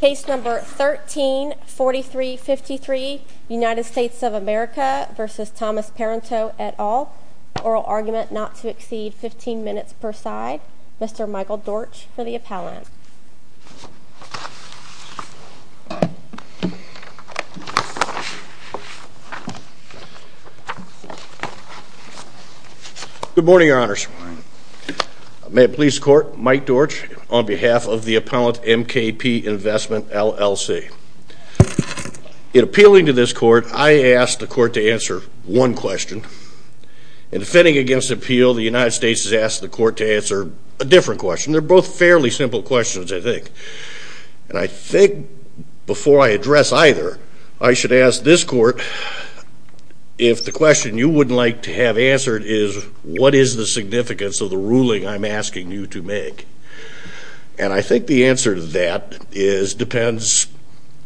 Case No. 13-4353, United States of America v. Thomas Parenteau et al. Oral argument not to exceed 15 minutes per side. Mr. Michael Dortch for the appellant. Good morning, your honors. May it please the court, Mike Dortch on behalf of the appellant MKP Investment LLC. In appealing to this court, I asked the court to answer one question. In defending against appeal, the United States has asked the court to answer a different question. They're both fairly simple questions, I think. And I think before I address either, I should ask this court if the question you would like to have answered is, what is the significance of the ruling I'm asking you to make? And I think the answer to that depends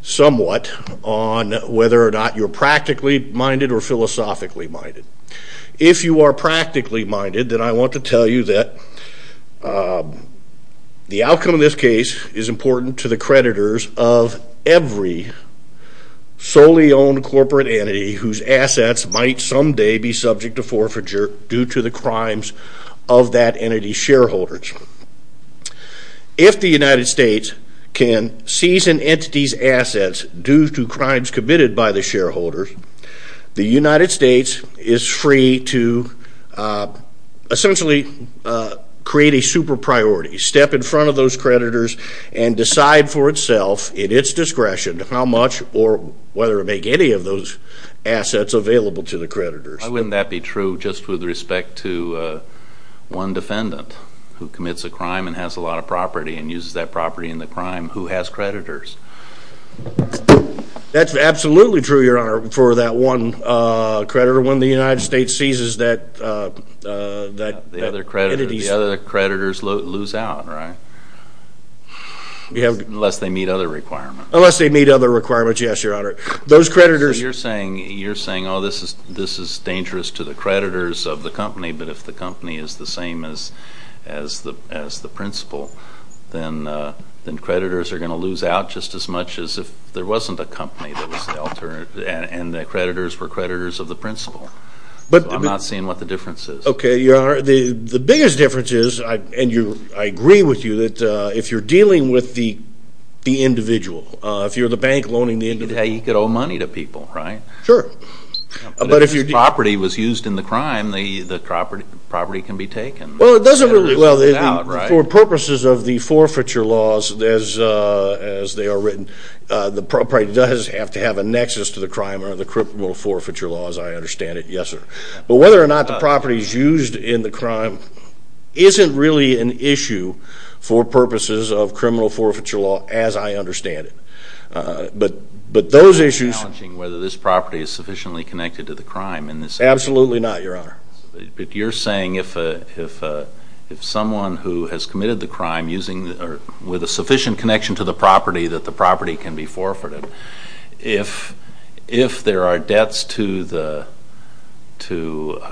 somewhat on whether or not you're practically minded or philosophically minded. If you are The outcome of this case is important to the creditors of every solely owned corporate entity whose assets might someday be subject to forfeiture due to the crimes of that entity's shareholders. If the United States can seize an entity's assets due to crimes committed by the shareholders, the United States is free to essentially create a super priority, step in front of those creditors and decide for itself, at its discretion, how much or whether to make any of those assets available to the creditors. Why wouldn't that be true just with respect to one defendant who commits a crime and has a lot of property and uses that property in the crime who has creditors? That's absolutely true, Your Honor, for that one creditor. When the United States seizes that entity's The other creditors lose out, right? Unless they meet other requirements. Unless they meet other requirements, yes, Your Honor. Those creditors You're saying, oh, this is dangerous to the creditors of the company, but if the company is the same as the principal, then creditors are going to lose out just as much as if there wasn't a company that was the alternative and the creditors were creditors of the principal. I'm not seeing what the difference is. Okay, the biggest difference is, and I agree with you, that if you're dealing with the individual, if you're the bank loaning the individual You could owe money to people, right? Sure. But if this property was used in the crime, the property can be taken. Well, it doesn't really For purposes of the forfeiture laws, as they are written, the property does have to have a nexus to the crime or the criminal forfeiture law, as I understand it, yes, sir. But whether or not the property is used in the crime isn't really an issue for purposes of criminal forfeiture law, as I understand it. But those issues It's challenging whether this property is sufficiently connected to the crime. Absolutely not, your honor. You're saying if someone who has committed the crime with a sufficient connection to the property that the property can be forfeited, if there are debts to the, if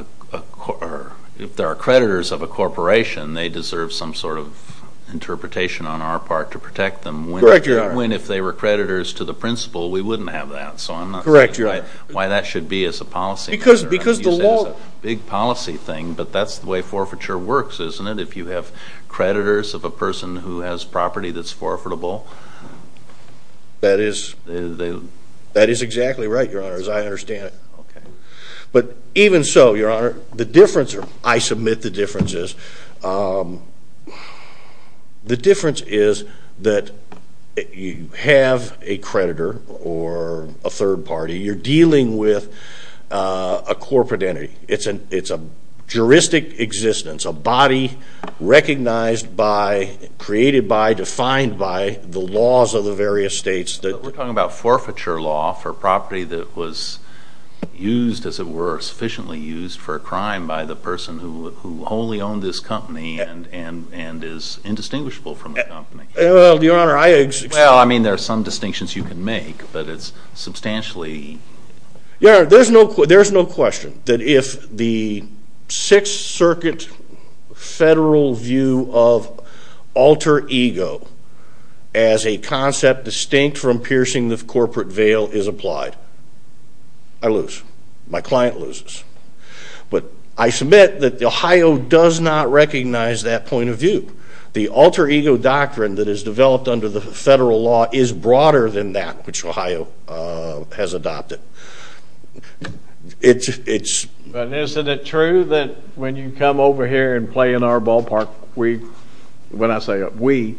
there are creditors of a corporation, they deserve some sort of interpretation on our part to protect them. Correct, your honor. So I'm not saying why that should be as a policy. Because the law Big policy thing, but that's the way forfeiture works, isn't it? If you have creditors of a person who has property that's forfeitable. That is exactly right, your honor, as I understand it. Okay. But even so, your honor, the difference, I submit the difference is, the difference is that you have a creditor or a third party, you're dealing with a corporate entity. It's a juristic existence, a body recognized by, created by, defined by the laws of the various states that We're talking about forfeiture law for property that was used, as it were, sufficiently used for a crime by the person who wholly owned this company and is indistinguishable from the company. Well, your honor, I exist. Well, I mean, there are some distinctions you can make, but it's substantially. Yeah, there's no, there's no question that if the Sixth Circuit federal view of alter ego as a concept distinct from piercing the corporate veil is applied, I lose, my client loses. But I submit that the Ohio does not recognize that point of view. The alter ego doctrine that is developed under the federal law is broader than that which Ohio has adopted. But isn't it true that when you come over here and play in our ballpark, we, when I say we,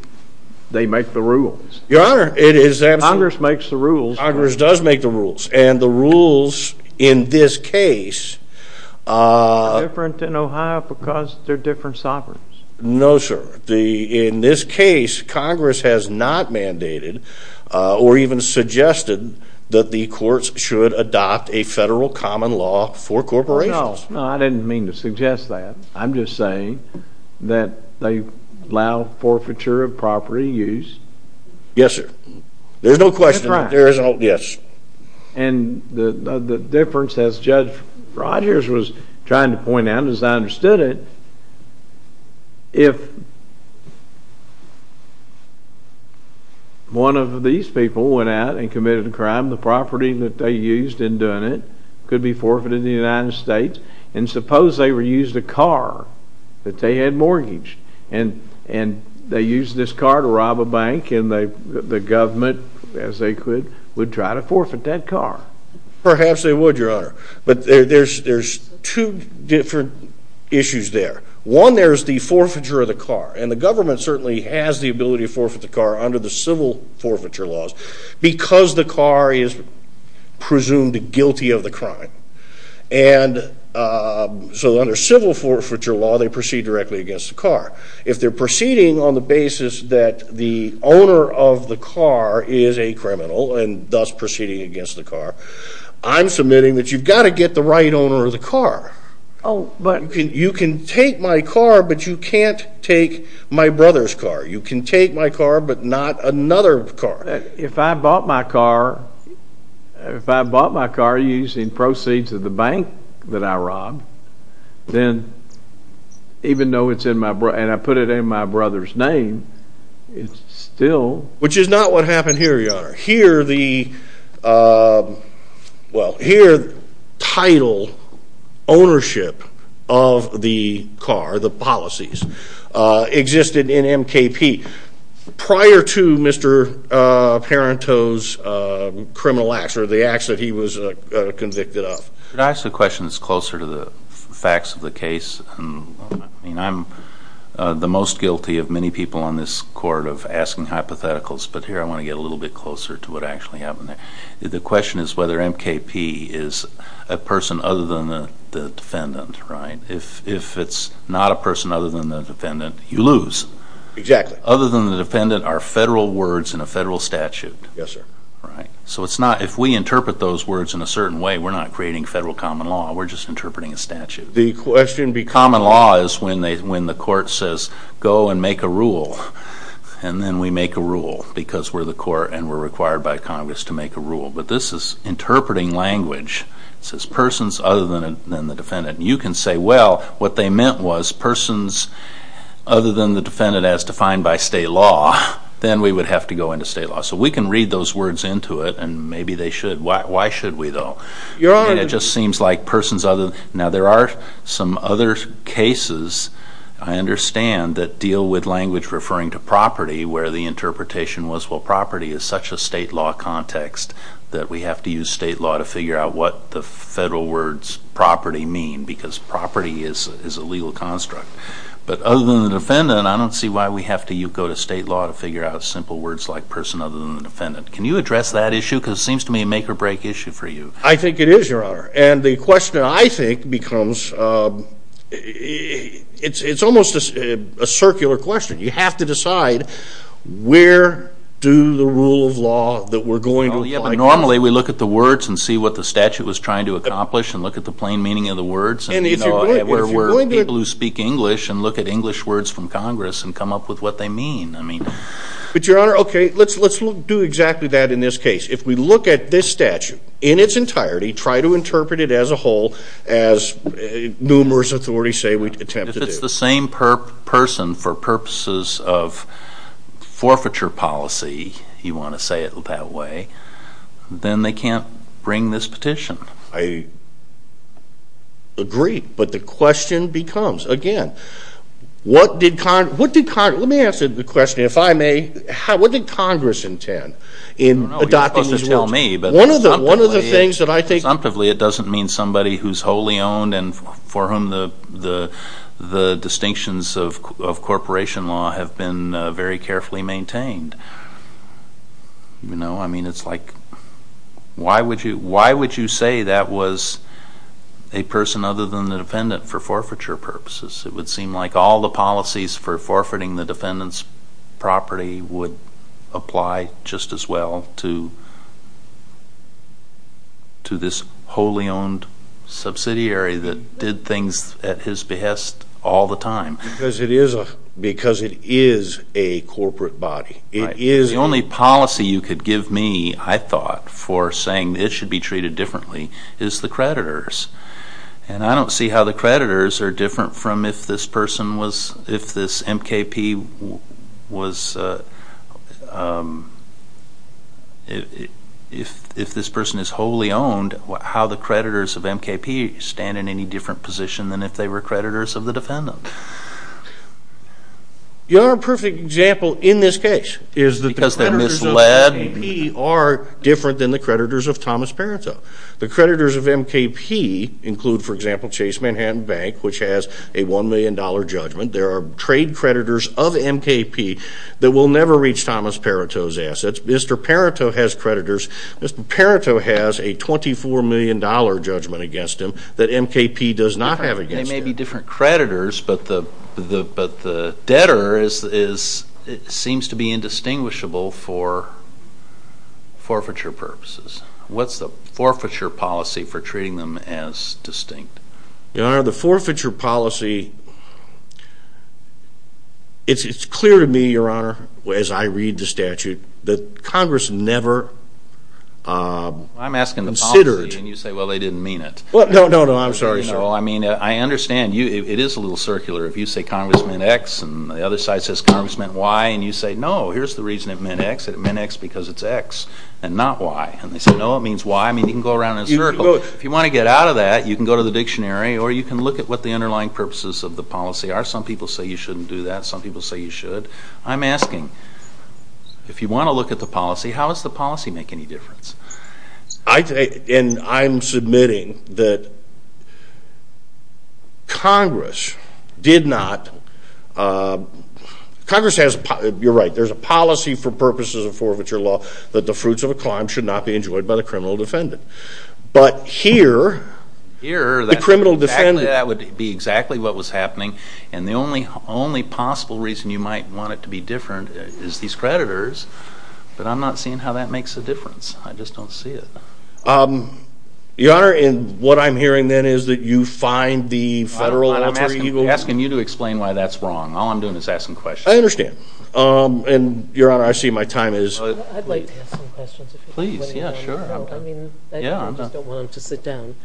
they make the rules? Your honor, it is absolutely. Congress makes the rules. Congress does make the rules. And the rules in this case, Congress has not mandated or even suggested that the courts should adopt a federal common law for corporations. No, I didn't mean to suggest that. I'm just saying that they allow forfeiture of property use. Yes, sir. There's no question. That's right. Yes. And the difference as Judge Rogers was trying to point out, as I understood it, if one of these people went out and committed a crime, the property that they used in doing it could be forfeited in the United States. And suppose they were used a car that they had mortgaged, and they used this car to rob a bank, and the government, as they could, would try to forfeit that car. Perhaps they would, your honor. But there's two different issues there. One, there's the forfeiture of the car. And the government certainly has the ability to forfeit the car under the civil forfeiture laws because the car is presumed guilty of the crime. And so under civil forfeiture law, they proceed directly against the car. If they're proceeding on the car, I'm submitting that you've got to get the right owner of the car. But you can take my car, but you can't take my brother's car. You can take my car, but not another car. If I bought my car using proceeds of the bank that I robbed, then even though it's in my brother's name, it's still... Which is not what happened here, your honor. Here, the title, ownership of the car, the policies, existed in MKP prior to Mr. Parenteau's criminal acts or the acts that he was convicted of. Could I ask a question that's closer to the facts of the case? I mean, I'm the most guilty of many people on this court of asking hypotheticals, but here I want to get a little bit closer to what actually happened there. The question is whether MKP is a person other than the defendant, right? If it's not a person other than the defendant, you lose. Exactly. Other than the defendant are federal words in a federal statute. Yes, sir. Right. So it's not... If we interpret those words in a certain way, we're not creating federal common law. We're just interpreting a statute. The question... Common law is when the court says, go and make a rule, and then we make a rule because we're the court and we're required by Congress to make a rule. But this is interpreting language. It says persons other than the defendant. You can say, well, what they meant was persons other than the defendant as defined by state law, then we would have to go into state law. So we can read those words into it, and maybe they should. Why should we, though? Your honor... It just seems like persons other... Now, there are some other cases, I understand, that deal with language referring to property, where the interpretation was, well, property is such a state law context that we have to use state law to figure out what the federal words property mean, because property is a legal construct. But other than the defendant, I don't see why we have to go to state law to figure out simple words like person other than the defendant. Can you address that issue? Because it seems to me a make-or-break issue for you. I think it is, your honor. And the question, I think, becomes, it's almost a circular question. You have to decide where do the rule of law that we're going to apply to... Normally, we look at the words and see what the statute was trying to accomplish and look at the plain meaning of the words. And, you know, if we're people who speak English and look at English words from Congress and come up with what they mean, I mean... But your honor, okay, let's do exactly that in this case. If we look at this statute in its entirety, try to interpret it as a whole as numerous authorities say we attempt to do. If it's the same person for purposes of forfeiture policy, you want to say it that way, then they can't bring this petition. I agree. But the question becomes, again, what did Congress... Let me answer the question, if I may. What did Congress intend in adopting these words? Well, one of the things that I think... Exemptively, it doesn't mean somebody who's wholly owned and for whom the distinctions of corporation law have been very carefully maintained. You know, I mean, it's like, why would you say that was a person other than the defendant for forfeiture purposes? It would seem like all the policies for forfeiting the defendant's property would apply just as well to this wholly owned subsidiary that did things at his behest all the time. Because it is a corporate body. The only policy you could give me, I thought, for saying it should be treated differently is the creditors. And I don't see how the creditors are different from if this person was... If this M.K.P. was... If this person is wholly owned, how the creditors of M.K.P. stand in any different position than if they were creditors of the defendant? Your perfect example in this case is that the creditors of M.K.P. are different than the creditors of Thomas Parenteau. The creditors of M.K.P. include, for example, Chase Manhattan Bank, which has a $1 million judgment. There are trade creditors of M.K.P. that will never reach Thomas Parenteau's assets. Mr. Parenteau has creditors... Mr. Parenteau has a $24 million judgment against him that M.K.P. does not have against him. They may be different creditors, but the debtor seems to be indistinguishable for forfeiture purposes. What's the forfeiture policy for treating them as distinct? Your Honor, the forfeiture policy... It's clear to me, Your Honor, as I read the statute, that Congress never considered... I'm asking the policy, and you say, well, they didn't mean it. Well, no, no, no, I'm sorry, sir. No, I mean, I understand. It is a little circular. If you say Congress meant X, and the other side says Congress meant Y, and you say, no, here's the reason it meant X. It meant X because it's X and not Y. And they say, no, it means Y. I mean, you can go around in a or you can look at what the underlying purposes of the policy are. Some people say you shouldn't do that. Some people say you should. I'm asking, if you want to look at the policy, how does the policy make any difference? And I'm submitting that Congress did not... Congress has... You're right. There's a policy for purposes of forfeiture law that the fruits of a crime should not be enjoyed by the criminal defendant. But here, the criminal defendant... Here, that would be exactly what was happening. And the only possible reason you might want it to be different is these creditors. But I'm not seeing how that makes a difference. I just don't see it. Your Honor, and what I'm hearing then is that you find the federal alter ego... I'm asking you to explain why that's wrong. All I'm doing is asking questions. I understand. And Your Honor, I see my time is... I'd like to ask some questions. Please. Yeah, sure. I mean, I just don't want him to sit down.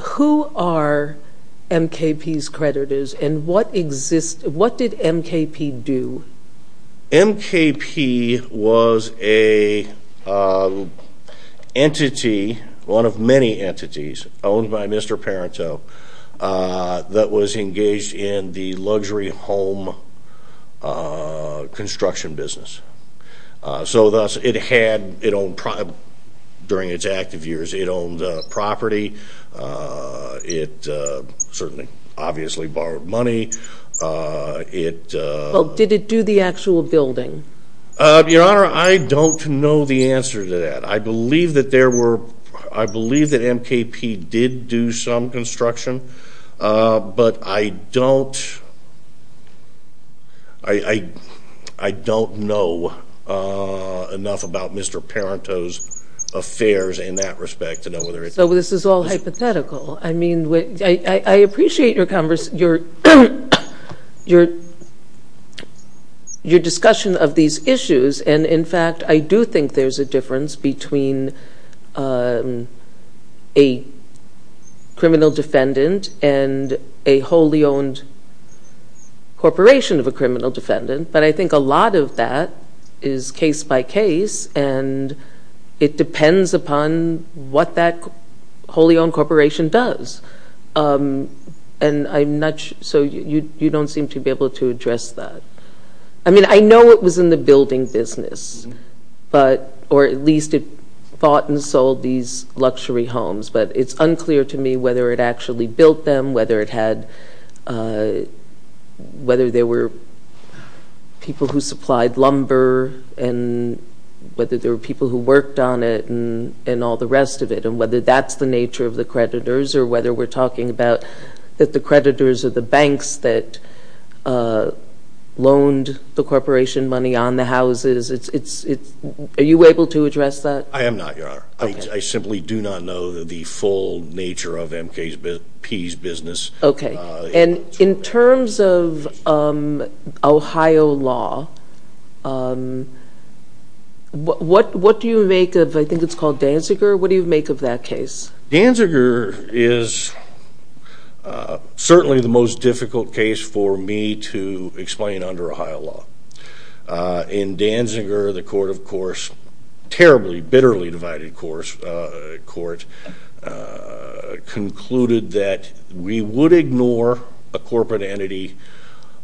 Who are MKP's creditors and what did MKP do? MKP was a entity, one of many entities owned by Mr. Parenteau, that was engaged in the luxury home construction business. So thus, it had... During its active years, it owned property. It certainly obviously borrowed money. It... Well, did it do the actual building? Your Honor, I don't know the answer to that. I believe that there were... I believe that MKP did do some construction, but I don't know enough about Mr. Parenteau's affairs in that respect to know whether it... So this is all hypothetical. I appreciate your discussion of these issues. And in fact, I do think there's a difference between a criminal defendant and a wholly owned corporation of a criminal defendant. But I think a lot of that is case by case, and it depends upon what that wholly owned corporation does. And I'm not... So you don't seem to be able to address that. I mean, I know it was in the building business, or at least it bought and sold these luxury homes, but it's unclear to me whether it actually built them, whether it had... Whether there were people who supplied lumber and whether there were people who worked on it and all the rest of it, and whether that's the nature of the creditors or whether we're talking about that the creditors are the banks that loaned the corporation money on the houses. Are you able to address that? I am not, Your Honor. I simply do not know the full nature of MKP's business. Okay. And in terms of Ohio law, what do you make of... I think it's called Danziger. What do you make of that case? Danziger is certainly the most difficult case for me to explain under Ohio law. In Danziger, the court, of course, terribly, bitterly divided court, concluded that we would ignore a corporate entity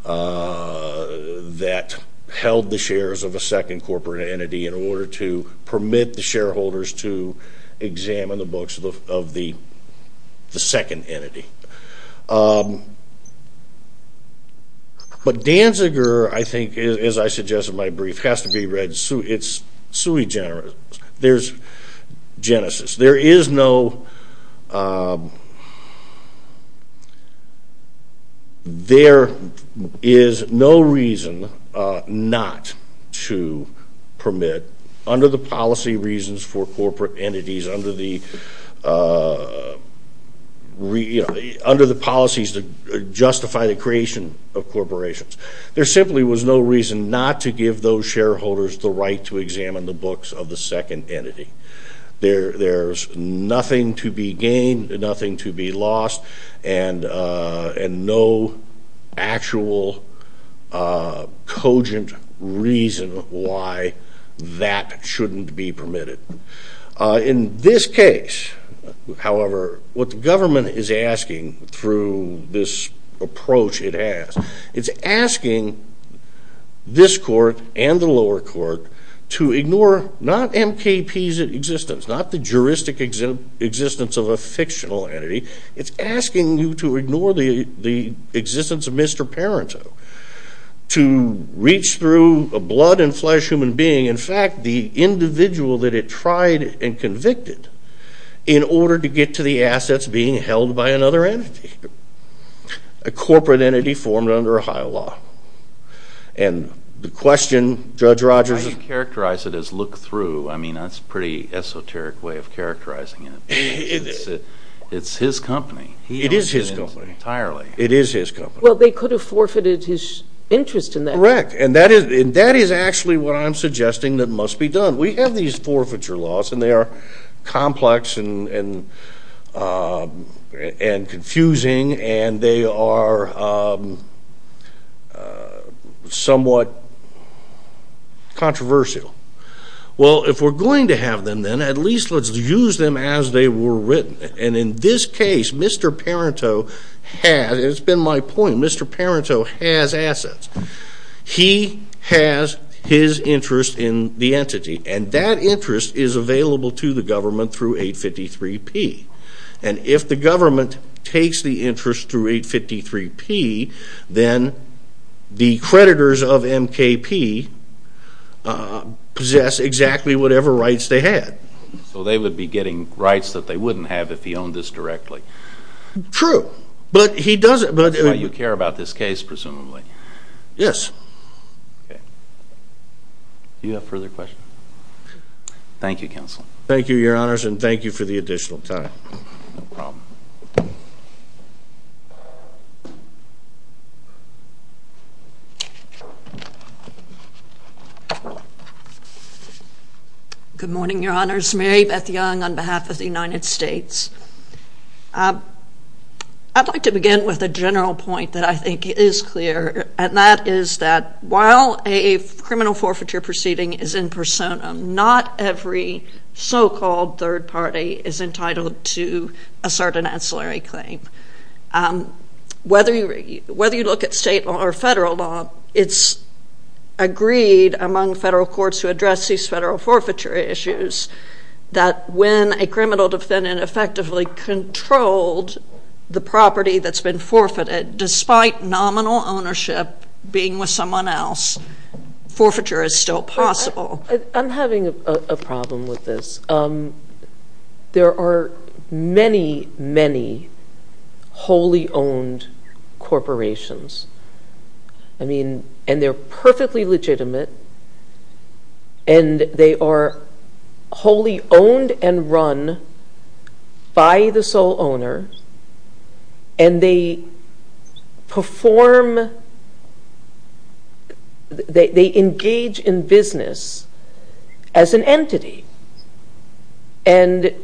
that held the shares of a second corporate entity in order to permit the shareholders to examine the books of the second entity. But Danziger, I think, as I suggested in my brief, has to be read... It's sui generis. There's no... There is no reason not to permit, under the policy reasons for corporate entities, under the policies that justify the creation of corporations. There simply was no reason not to give those shareholders the right to examine the books of the second entity. There's nothing to be gained, nothing to be lost, and no actual cogent reason why that shouldn't be permitted. In this case, however, what the government is asking through this approach it has, it's asking this court and the lower court to ignore not MKP's existence, not the juristic existence of a fictional entity. It's asking you to ignore the existence of Mr. Parenteau, to reach through a blood and flesh human being, in fact, the individual that it and convicted in order to get to the assets being held by another entity, a corporate entity formed under Ohio law. And the question, Judge Rogers... How do you characterize it as look through? I mean, that's a pretty esoteric way of characterizing it. It's his company. It is his company. Entirely. It is his company. Well, they could have forfeited his interest in that. Correct. And that is actually what I'm suggesting that must be done. We have these forfeiture laws and they are complex and confusing and they are somewhat controversial. Well, if we're going to have them, then at least let's use them as they were written. And in this case, Mr. Parenteau has... It's been my point, Mr. Parenteau has assets. He has his interest in the entity. And that interest is available to the government through 853P. And if the government takes the interest through 853P, then the creditors of MKP possess exactly whatever rights they had. So they would be getting rights that they wouldn't have if he owned this directly. True. But he doesn't... That's why you care about this case, presumably. Yes. Okay. Do you have further questions? Thank you, Counsel. Thank you, Your Honors. And thank you for the additional time. Good morning, Your Honors. Mary Beth Young on behalf of the United States. I'd like to begin with a general point that I think is clear. And that is that while a criminal forfeiture proceeding is in persona, not every so-called third party is entitled to a certain ancillary claim. Whether you look at state or federal law, it's agreed among federal courts to address these federal forfeiture issues that when a criminal defendant effectively controlled the property that's been forfeited, despite nominal ownership being with someone else, forfeiture is still possible. I'm having a problem with this. There are many, many wholly owned corporations. I mean, and they're perfectly legitimate. And they are wholly owned and run by the sole owner. And they engage in business as an entity. And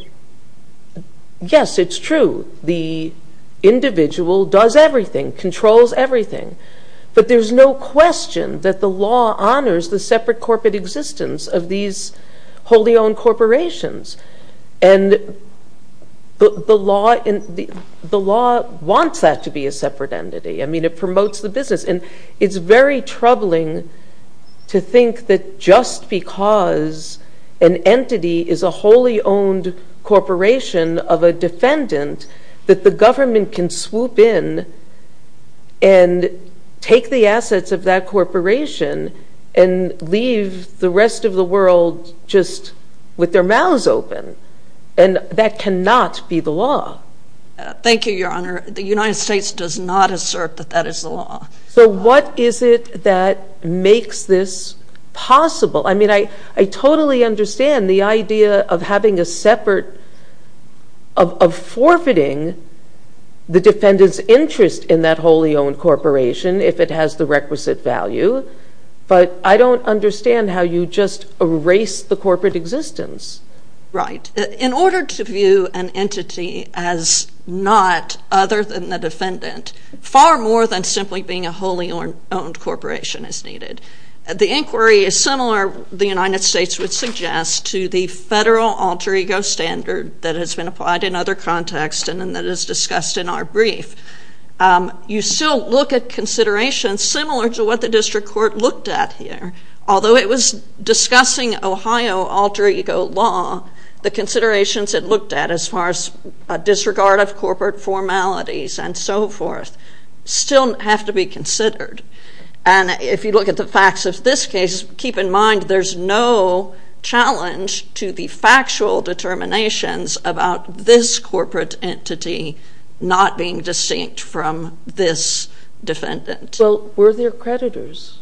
yes, it's true. The individual does everything, controls everything. But there's no question that the law honors the separate corporate existence of these wholly owned corporations. And the law wants that to be a separate entity. I mean, it promotes the business. And it's very troubling to think that just because an entity is a wholly owned corporation of a defendant that the government can swoop in and take the assets of that corporation and leave the rest of the world just with their mouths open. And that cannot be the law. Thank you, Your Honor. The United States does not assert that that is the law. So what is it that makes this possible? I mean, I totally understand the idea of having a separate, of forfeiting the defendant's interest in that wholly owned corporation if it has the requisite value. But I don't understand how you just erase the corporate existence. Right. In order to view an entity as not other than the defendant, far more than simply being a wholly owned corporation is needed. The inquiry is similar, the United States would suggest, to the federal alter ego standard that has been applied in other contexts and that is discussed in our brief. You still look at considerations similar to what the district court looked at here. Although it was discussing Ohio alter ego law, the considerations it looked at as far as considered. And if you look at the facts of this case, keep in mind there's no challenge to the factual determinations about this corporate entity not being distinct from this defendant. Well, were there creditors?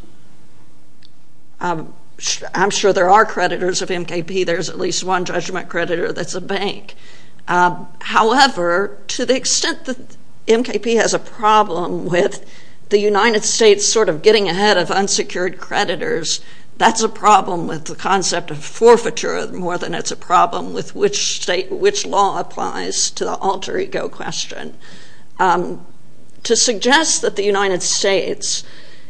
I'm sure there are creditors of MKP. There's at least one judgment creditor that's a bank. However, to the extent that MKP has a problem with the United States sort of getting ahead of unsecured creditors, that's a problem with the concept of forfeiture more than it's a problem with which state, which law applies to the alter ego question. To suggest that the United States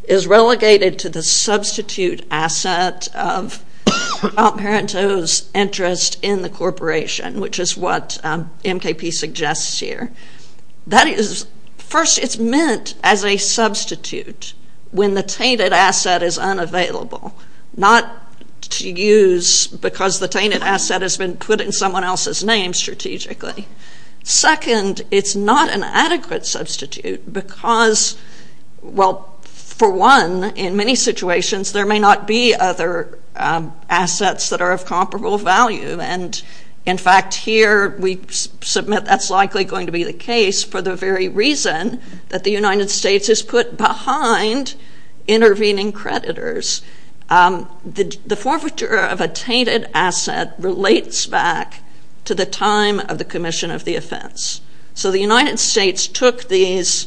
is relegated to the substitute asset of Apparento's interest in the corporation, which is what MKP suggests here. That is, first, it's meant as a substitute when the tainted asset is unavailable. Not to use because the tainted asset has been put in someone else's name strategically. Second, it's not an adequate substitute because, well, for one, in many situations, there may not be other assets that are of comparable value. And in fact, here, we submit that's likely going to be the case for the very reason that the United States is put behind intervening creditors. The forfeiture of a tainted asset relates back to the time of the commission of the offense. So the United States took these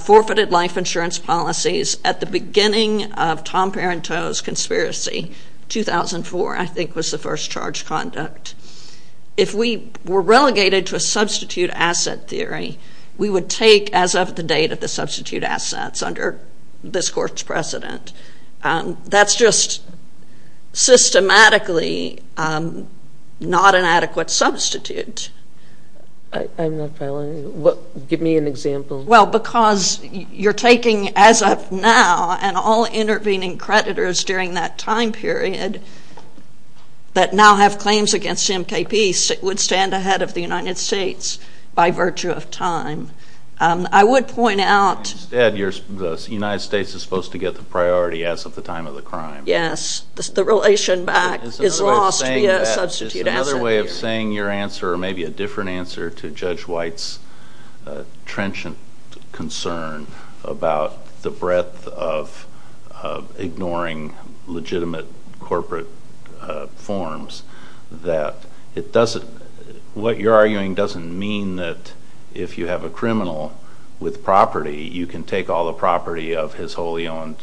forfeited life insurance policies at the beginning of Tom Apparento's conspiracy. 2004, I think, was the first charge conduct. If we were relegated to a substitute asset theory, we would take as of the date of the substitute assets under this court's precedent. That's just systematically not an adequate substitute. I'm not following. Give me an example. Well, because you're taking as of now and all intervening creditors during that time period that now have claims against MKP would stand ahead of the United States by virtue of time. I would point out- Instead, the United States is supposed to get the priority as of the time of the crime. Yes. The relation back is lost via a substitute asset theory. Is another way of saying your answer or maybe a different answer to Judge White's concern about the breadth of ignoring legitimate corporate forms that it doesn't- what you're arguing doesn't mean that if you have a criminal with property, you can take all the property of his wholly owned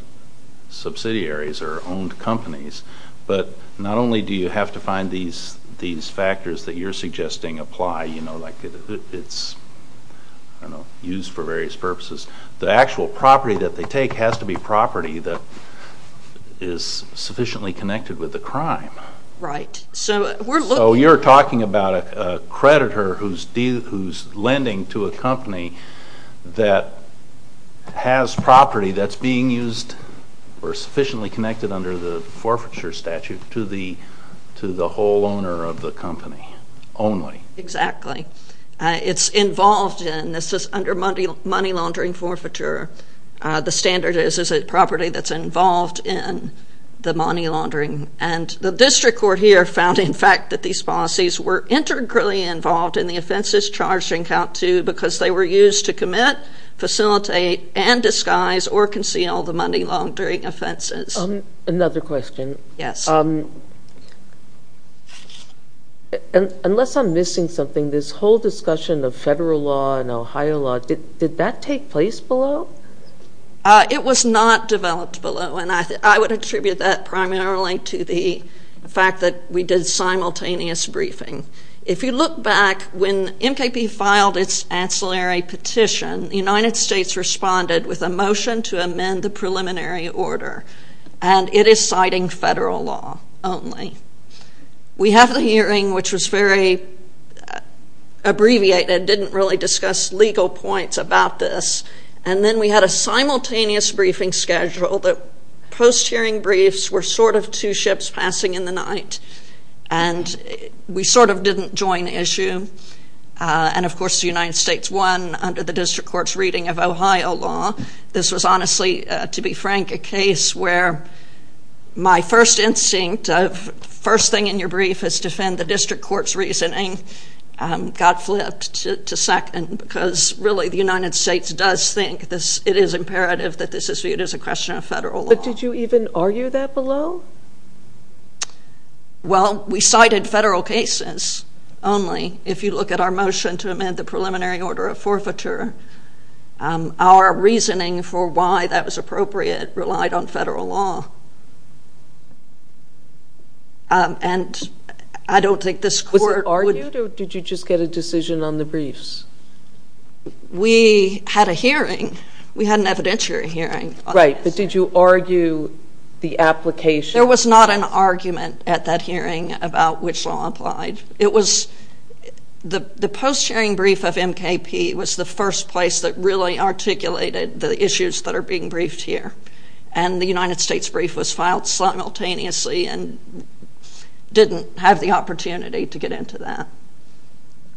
subsidiaries or owned companies. But not only do you have to find these factors that you're suggesting apply, you know, like it's, I don't know, used for various purposes. The actual property that they take has to be property that is sufficiently connected with the crime. Right. So you're talking about a creditor who's lending to a company that has property that's being used or sufficiently connected under the forfeiture statute to the whole owner of the company only. Exactly. It's involved in, this is under money laundering forfeiture, the standard is a property that's involved in the money laundering. And the district court here found, in fact, that these policies were integrally involved in the offenses charged in count two because they were used to commit, facilitate, and disguise or conceal the crime. Unless I'm missing something, this whole discussion of federal law and Ohio law, did that take place below? It was not developed below, and I would attribute that primarily to the fact that we did simultaneous briefing. If you look back, when MKP filed its ancillary petition, the United States responded with a motion to amend the preliminary order, and it is citing federal law only. We have the hearing, which was very abbreviated, didn't really discuss legal points about this. And then we had a simultaneous briefing schedule that post-hearing briefs were sort of two ships passing in the night. And we sort of didn't join the issue. And of course, the United States won under the district court's reading of Ohio law. This was honestly, to be frank, a case where my first instinct of first thing in your brief is to defend the district court's reasoning got flipped to second because, really, the United States does think it is imperative that this is viewed as a question of federal law. But did you even argue that below? Well, we cited federal cases only. If you look at our motion to amend the preliminary order of on federal law. And I don't think this court... Was it argued or did you just get a decision on the briefs? We had a hearing. We had an evidentiary hearing. Right. But did you argue the application? There was not an argument at that hearing about which law applied. It was the post-hearing brief of MKP was the first place that really articulated the issues that are being briefed here. And the United States brief was filed simultaneously and didn't have the opportunity to get into that.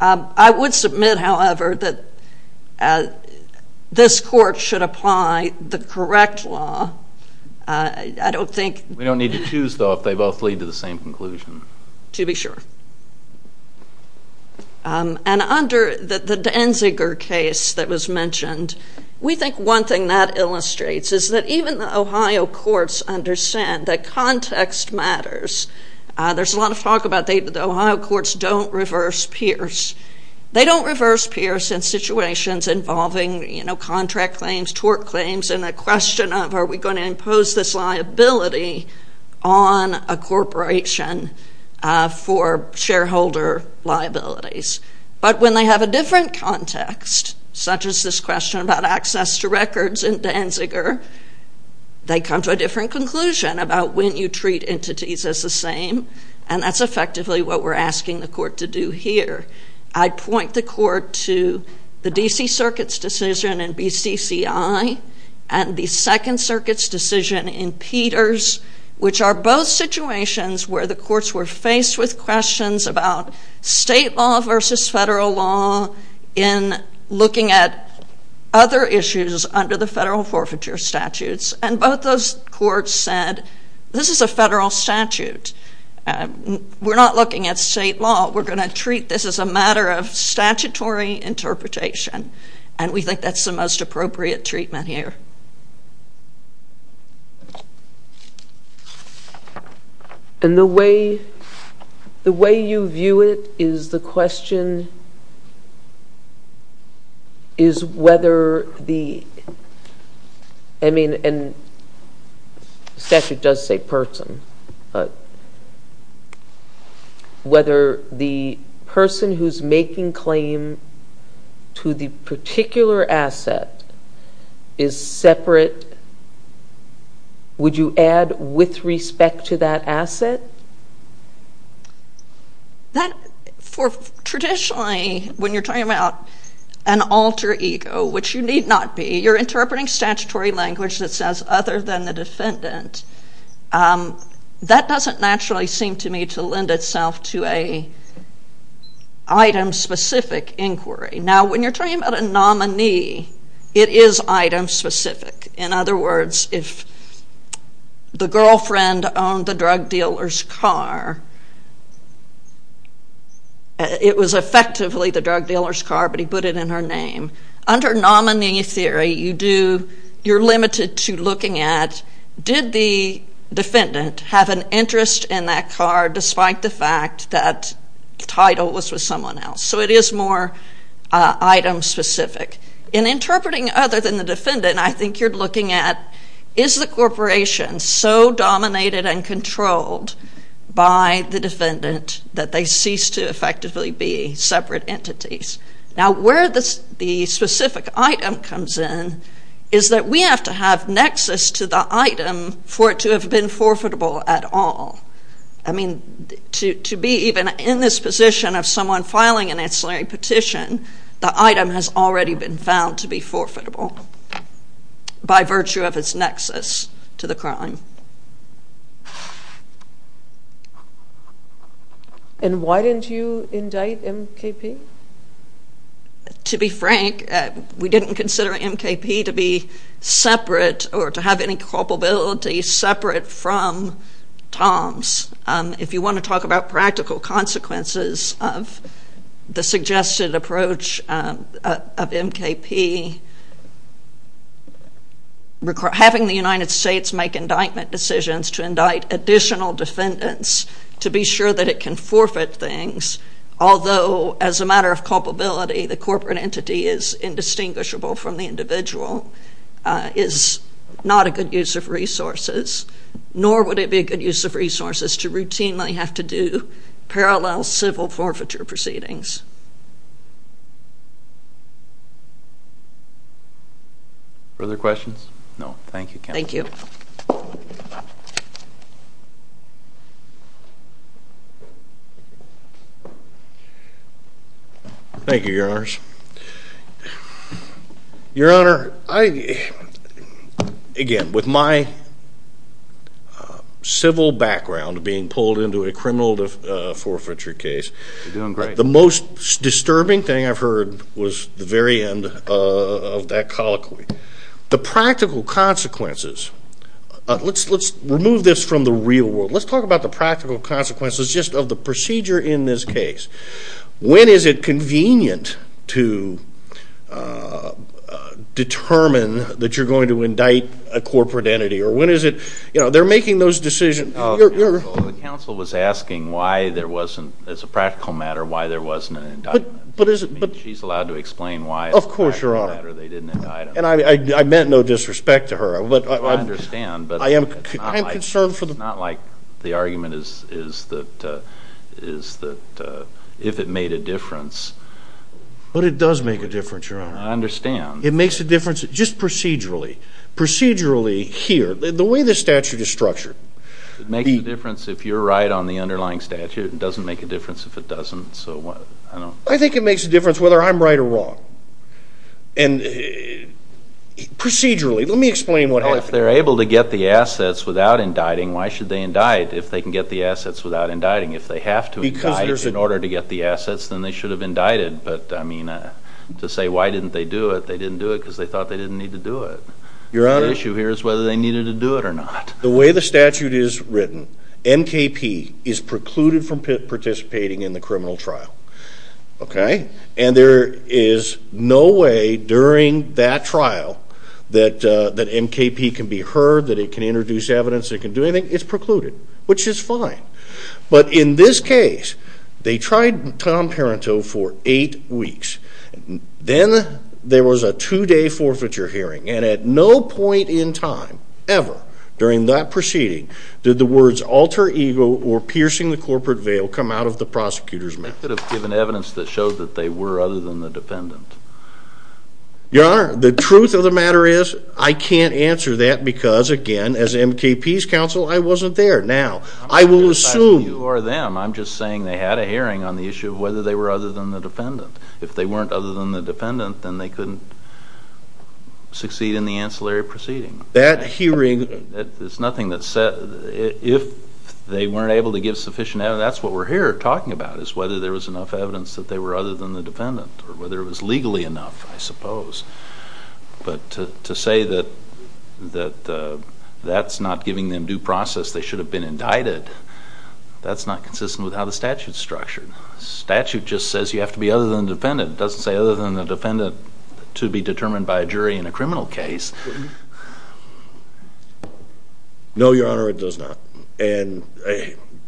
I would submit, however, that this court should apply the correct law. I don't think... We don't need to choose, though, if they both lead to the same conclusion. To be sure. And under the Denziger case that was mentioned, we think one thing that illustrates is that even the Ohio courts understand that context matters. There's a lot of talk about the Ohio courts don't reverse peers. They don't reverse peers in situations involving, you know, contract claims, tort claims, and the question of are we going to impose this liability on a for shareholder liabilities. But when they have a different context, such as this question about access to records in Denziger, they come to a different conclusion about when you treat entities as the same. And that's effectively what we're asking the court to do here. I'd point the court to the D.C. Circuit's decision in BCCI and the Second Circuit's decision in Peters, which are situations where the courts were faced with questions about state law versus federal law in looking at other issues under the federal forfeiture statutes. And both those courts said, this is a federal statute. We're not looking at state law. We're going to treat this as a matter of statutory interpretation. And we think that's the most appropriate treatment here. And the way you view it is the question is whether the, I mean, and the statute does say person, but whether the person who's making claim to the particular asset is separate, would you add with respect to that asset? That for traditionally, when you're talking about an alter ego, which you need not be, you're interpreting statutory language that says other than the defendant. That doesn't naturally seem to me to lend itself to a item specific inquiry. Now, you're talking about a nominee, it is item specific. In other words, if the girlfriend owned the drug dealer's car, it was effectively the drug dealer's car, but he put it in her name. Under nominee theory, you do, you're limited to looking at, did the defendant have an interest in that car despite the fact that title was with someone else? So it is more item specific. In interpreting other than the defendant, I think you're looking at, is the corporation so dominated and controlled by the defendant that they cease to effectively be separate entities? Now, where the specific item comes in is that we have to have nexus to the item for it to have been forfeitable at all. I mean, to be even in this position of someone filing an ancillary petition, the item has already been found to be forfeitable by virtue of its nexus to the crime. And why didn't you indict MKP? To be frank, we didn't consider MKP to be separate or to have any culpability separate from TOMS. If you want to talk about practical consequences of the suggested approach of MKP, having the United States make indictment decisions to indict additional defendants to be sure that it can forfeit things, although as a matter of culpability, the corporate entity is indistinguishable from the individual, is not a good use of resources, nor would it be a good use of resources to routinely have to do parallel civil forfeiture proceedings. Further questions? No, thank you. Thank you. Thank you, Your Honors. Your Honor, I, again, with my civil background being pulled into a criminal forfeiture case, the most disturbing thing I've heard was the very end of that colloquy. The practical consequences, let's remove this from the real world. Let's talk about the practical consequences just of the procedure in this case. When is it convenient to determine that you're going to indict a corporate entity? Or when is it, you know, they're making those decisions. The counsel was asking why there wasn't, as a practical matter, why there wasn't an indictment. She's allowed to explain why. Of course, Your Honor. And I meant no disrespect to her. I understand. I'm concerned for the court. It's not like the argument is that if it made a difference. But it does make a difference, Your Honor. I understand. It makes a difference just procedurally. Procedurally here, the way the statute is structured. It makes a difference if you're right on the underlying statute. It doesn't make a difference if it doesn't. I think it makes a difference whether I'm right or wrong. And procedurally, let me explain what happened. Well, if they're able to get the assets without indicting, why should they indict if they can get the assets without indicting? If they have to indict in order to get the assets, then they should have indicted. But, I mean, to say why didn't they do it, they didn't do it because they thought they didn't need to do it. Your Honor. The issue here is whether they needed to do it or not. The way the statute is written, NKP is precluded from participating in the criminal trial. Okay? And there is no way during that trial that NKP can be heard, that it can introduce evidence, it can do anything. It's precluded, which is fine. But in this case, they tried Tom Parenteau for eight weeks. Then there was a two-day forfeiture hearing. And at no point in time, ever, during that proceeding, did the words alter ego or piercing the corporate veil come out of the prosecutor's mouth. They could have given evidence that showed that they were other than the defendant. Your Honor, the truth of the matter is, I can't answer that because, again, as NKP's counsel, I wasn't there. Now, I will assume... I'm not criticizing you or them. I'm just saying they had a hearing on the issue of whether they were other than the defendant. If they weren't other than the defendant, then they couldn't succeed in the ancillary proceeding. That hearing... It's nothing that said... If they weren't able to give sufficient evidence, that's what we're here talking about, is whether there was enough evidence that they were other than the defendant, or whether it was legally enough, I suppose. But to say that that's not giving them due process, they should have been indicted, that's not consistent with how the statute's structured. The statute just says you have to be other than the defendant. It doesn't say other than the defendant to be determined by a jury in a criminal case. No, Your Honor, it does not.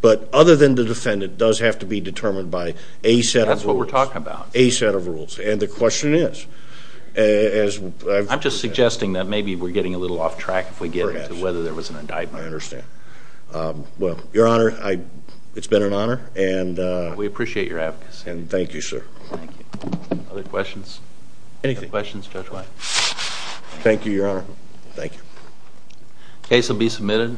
But other than the defendant does have to be determined by a set of rules. That's what we're talking about. A set of rules. And the question is, as... I'm just suggesting that maybe we're getting a little off track if we get into whether there was an indictment. I understand. Well, Your Honor, it's been an honor and... We appreciate your advocacy. And thank you, sir. Thank you. Other questions? Anything. Questions, Judge White? Thank you, Your Honor. Thank you. Case will be submitted.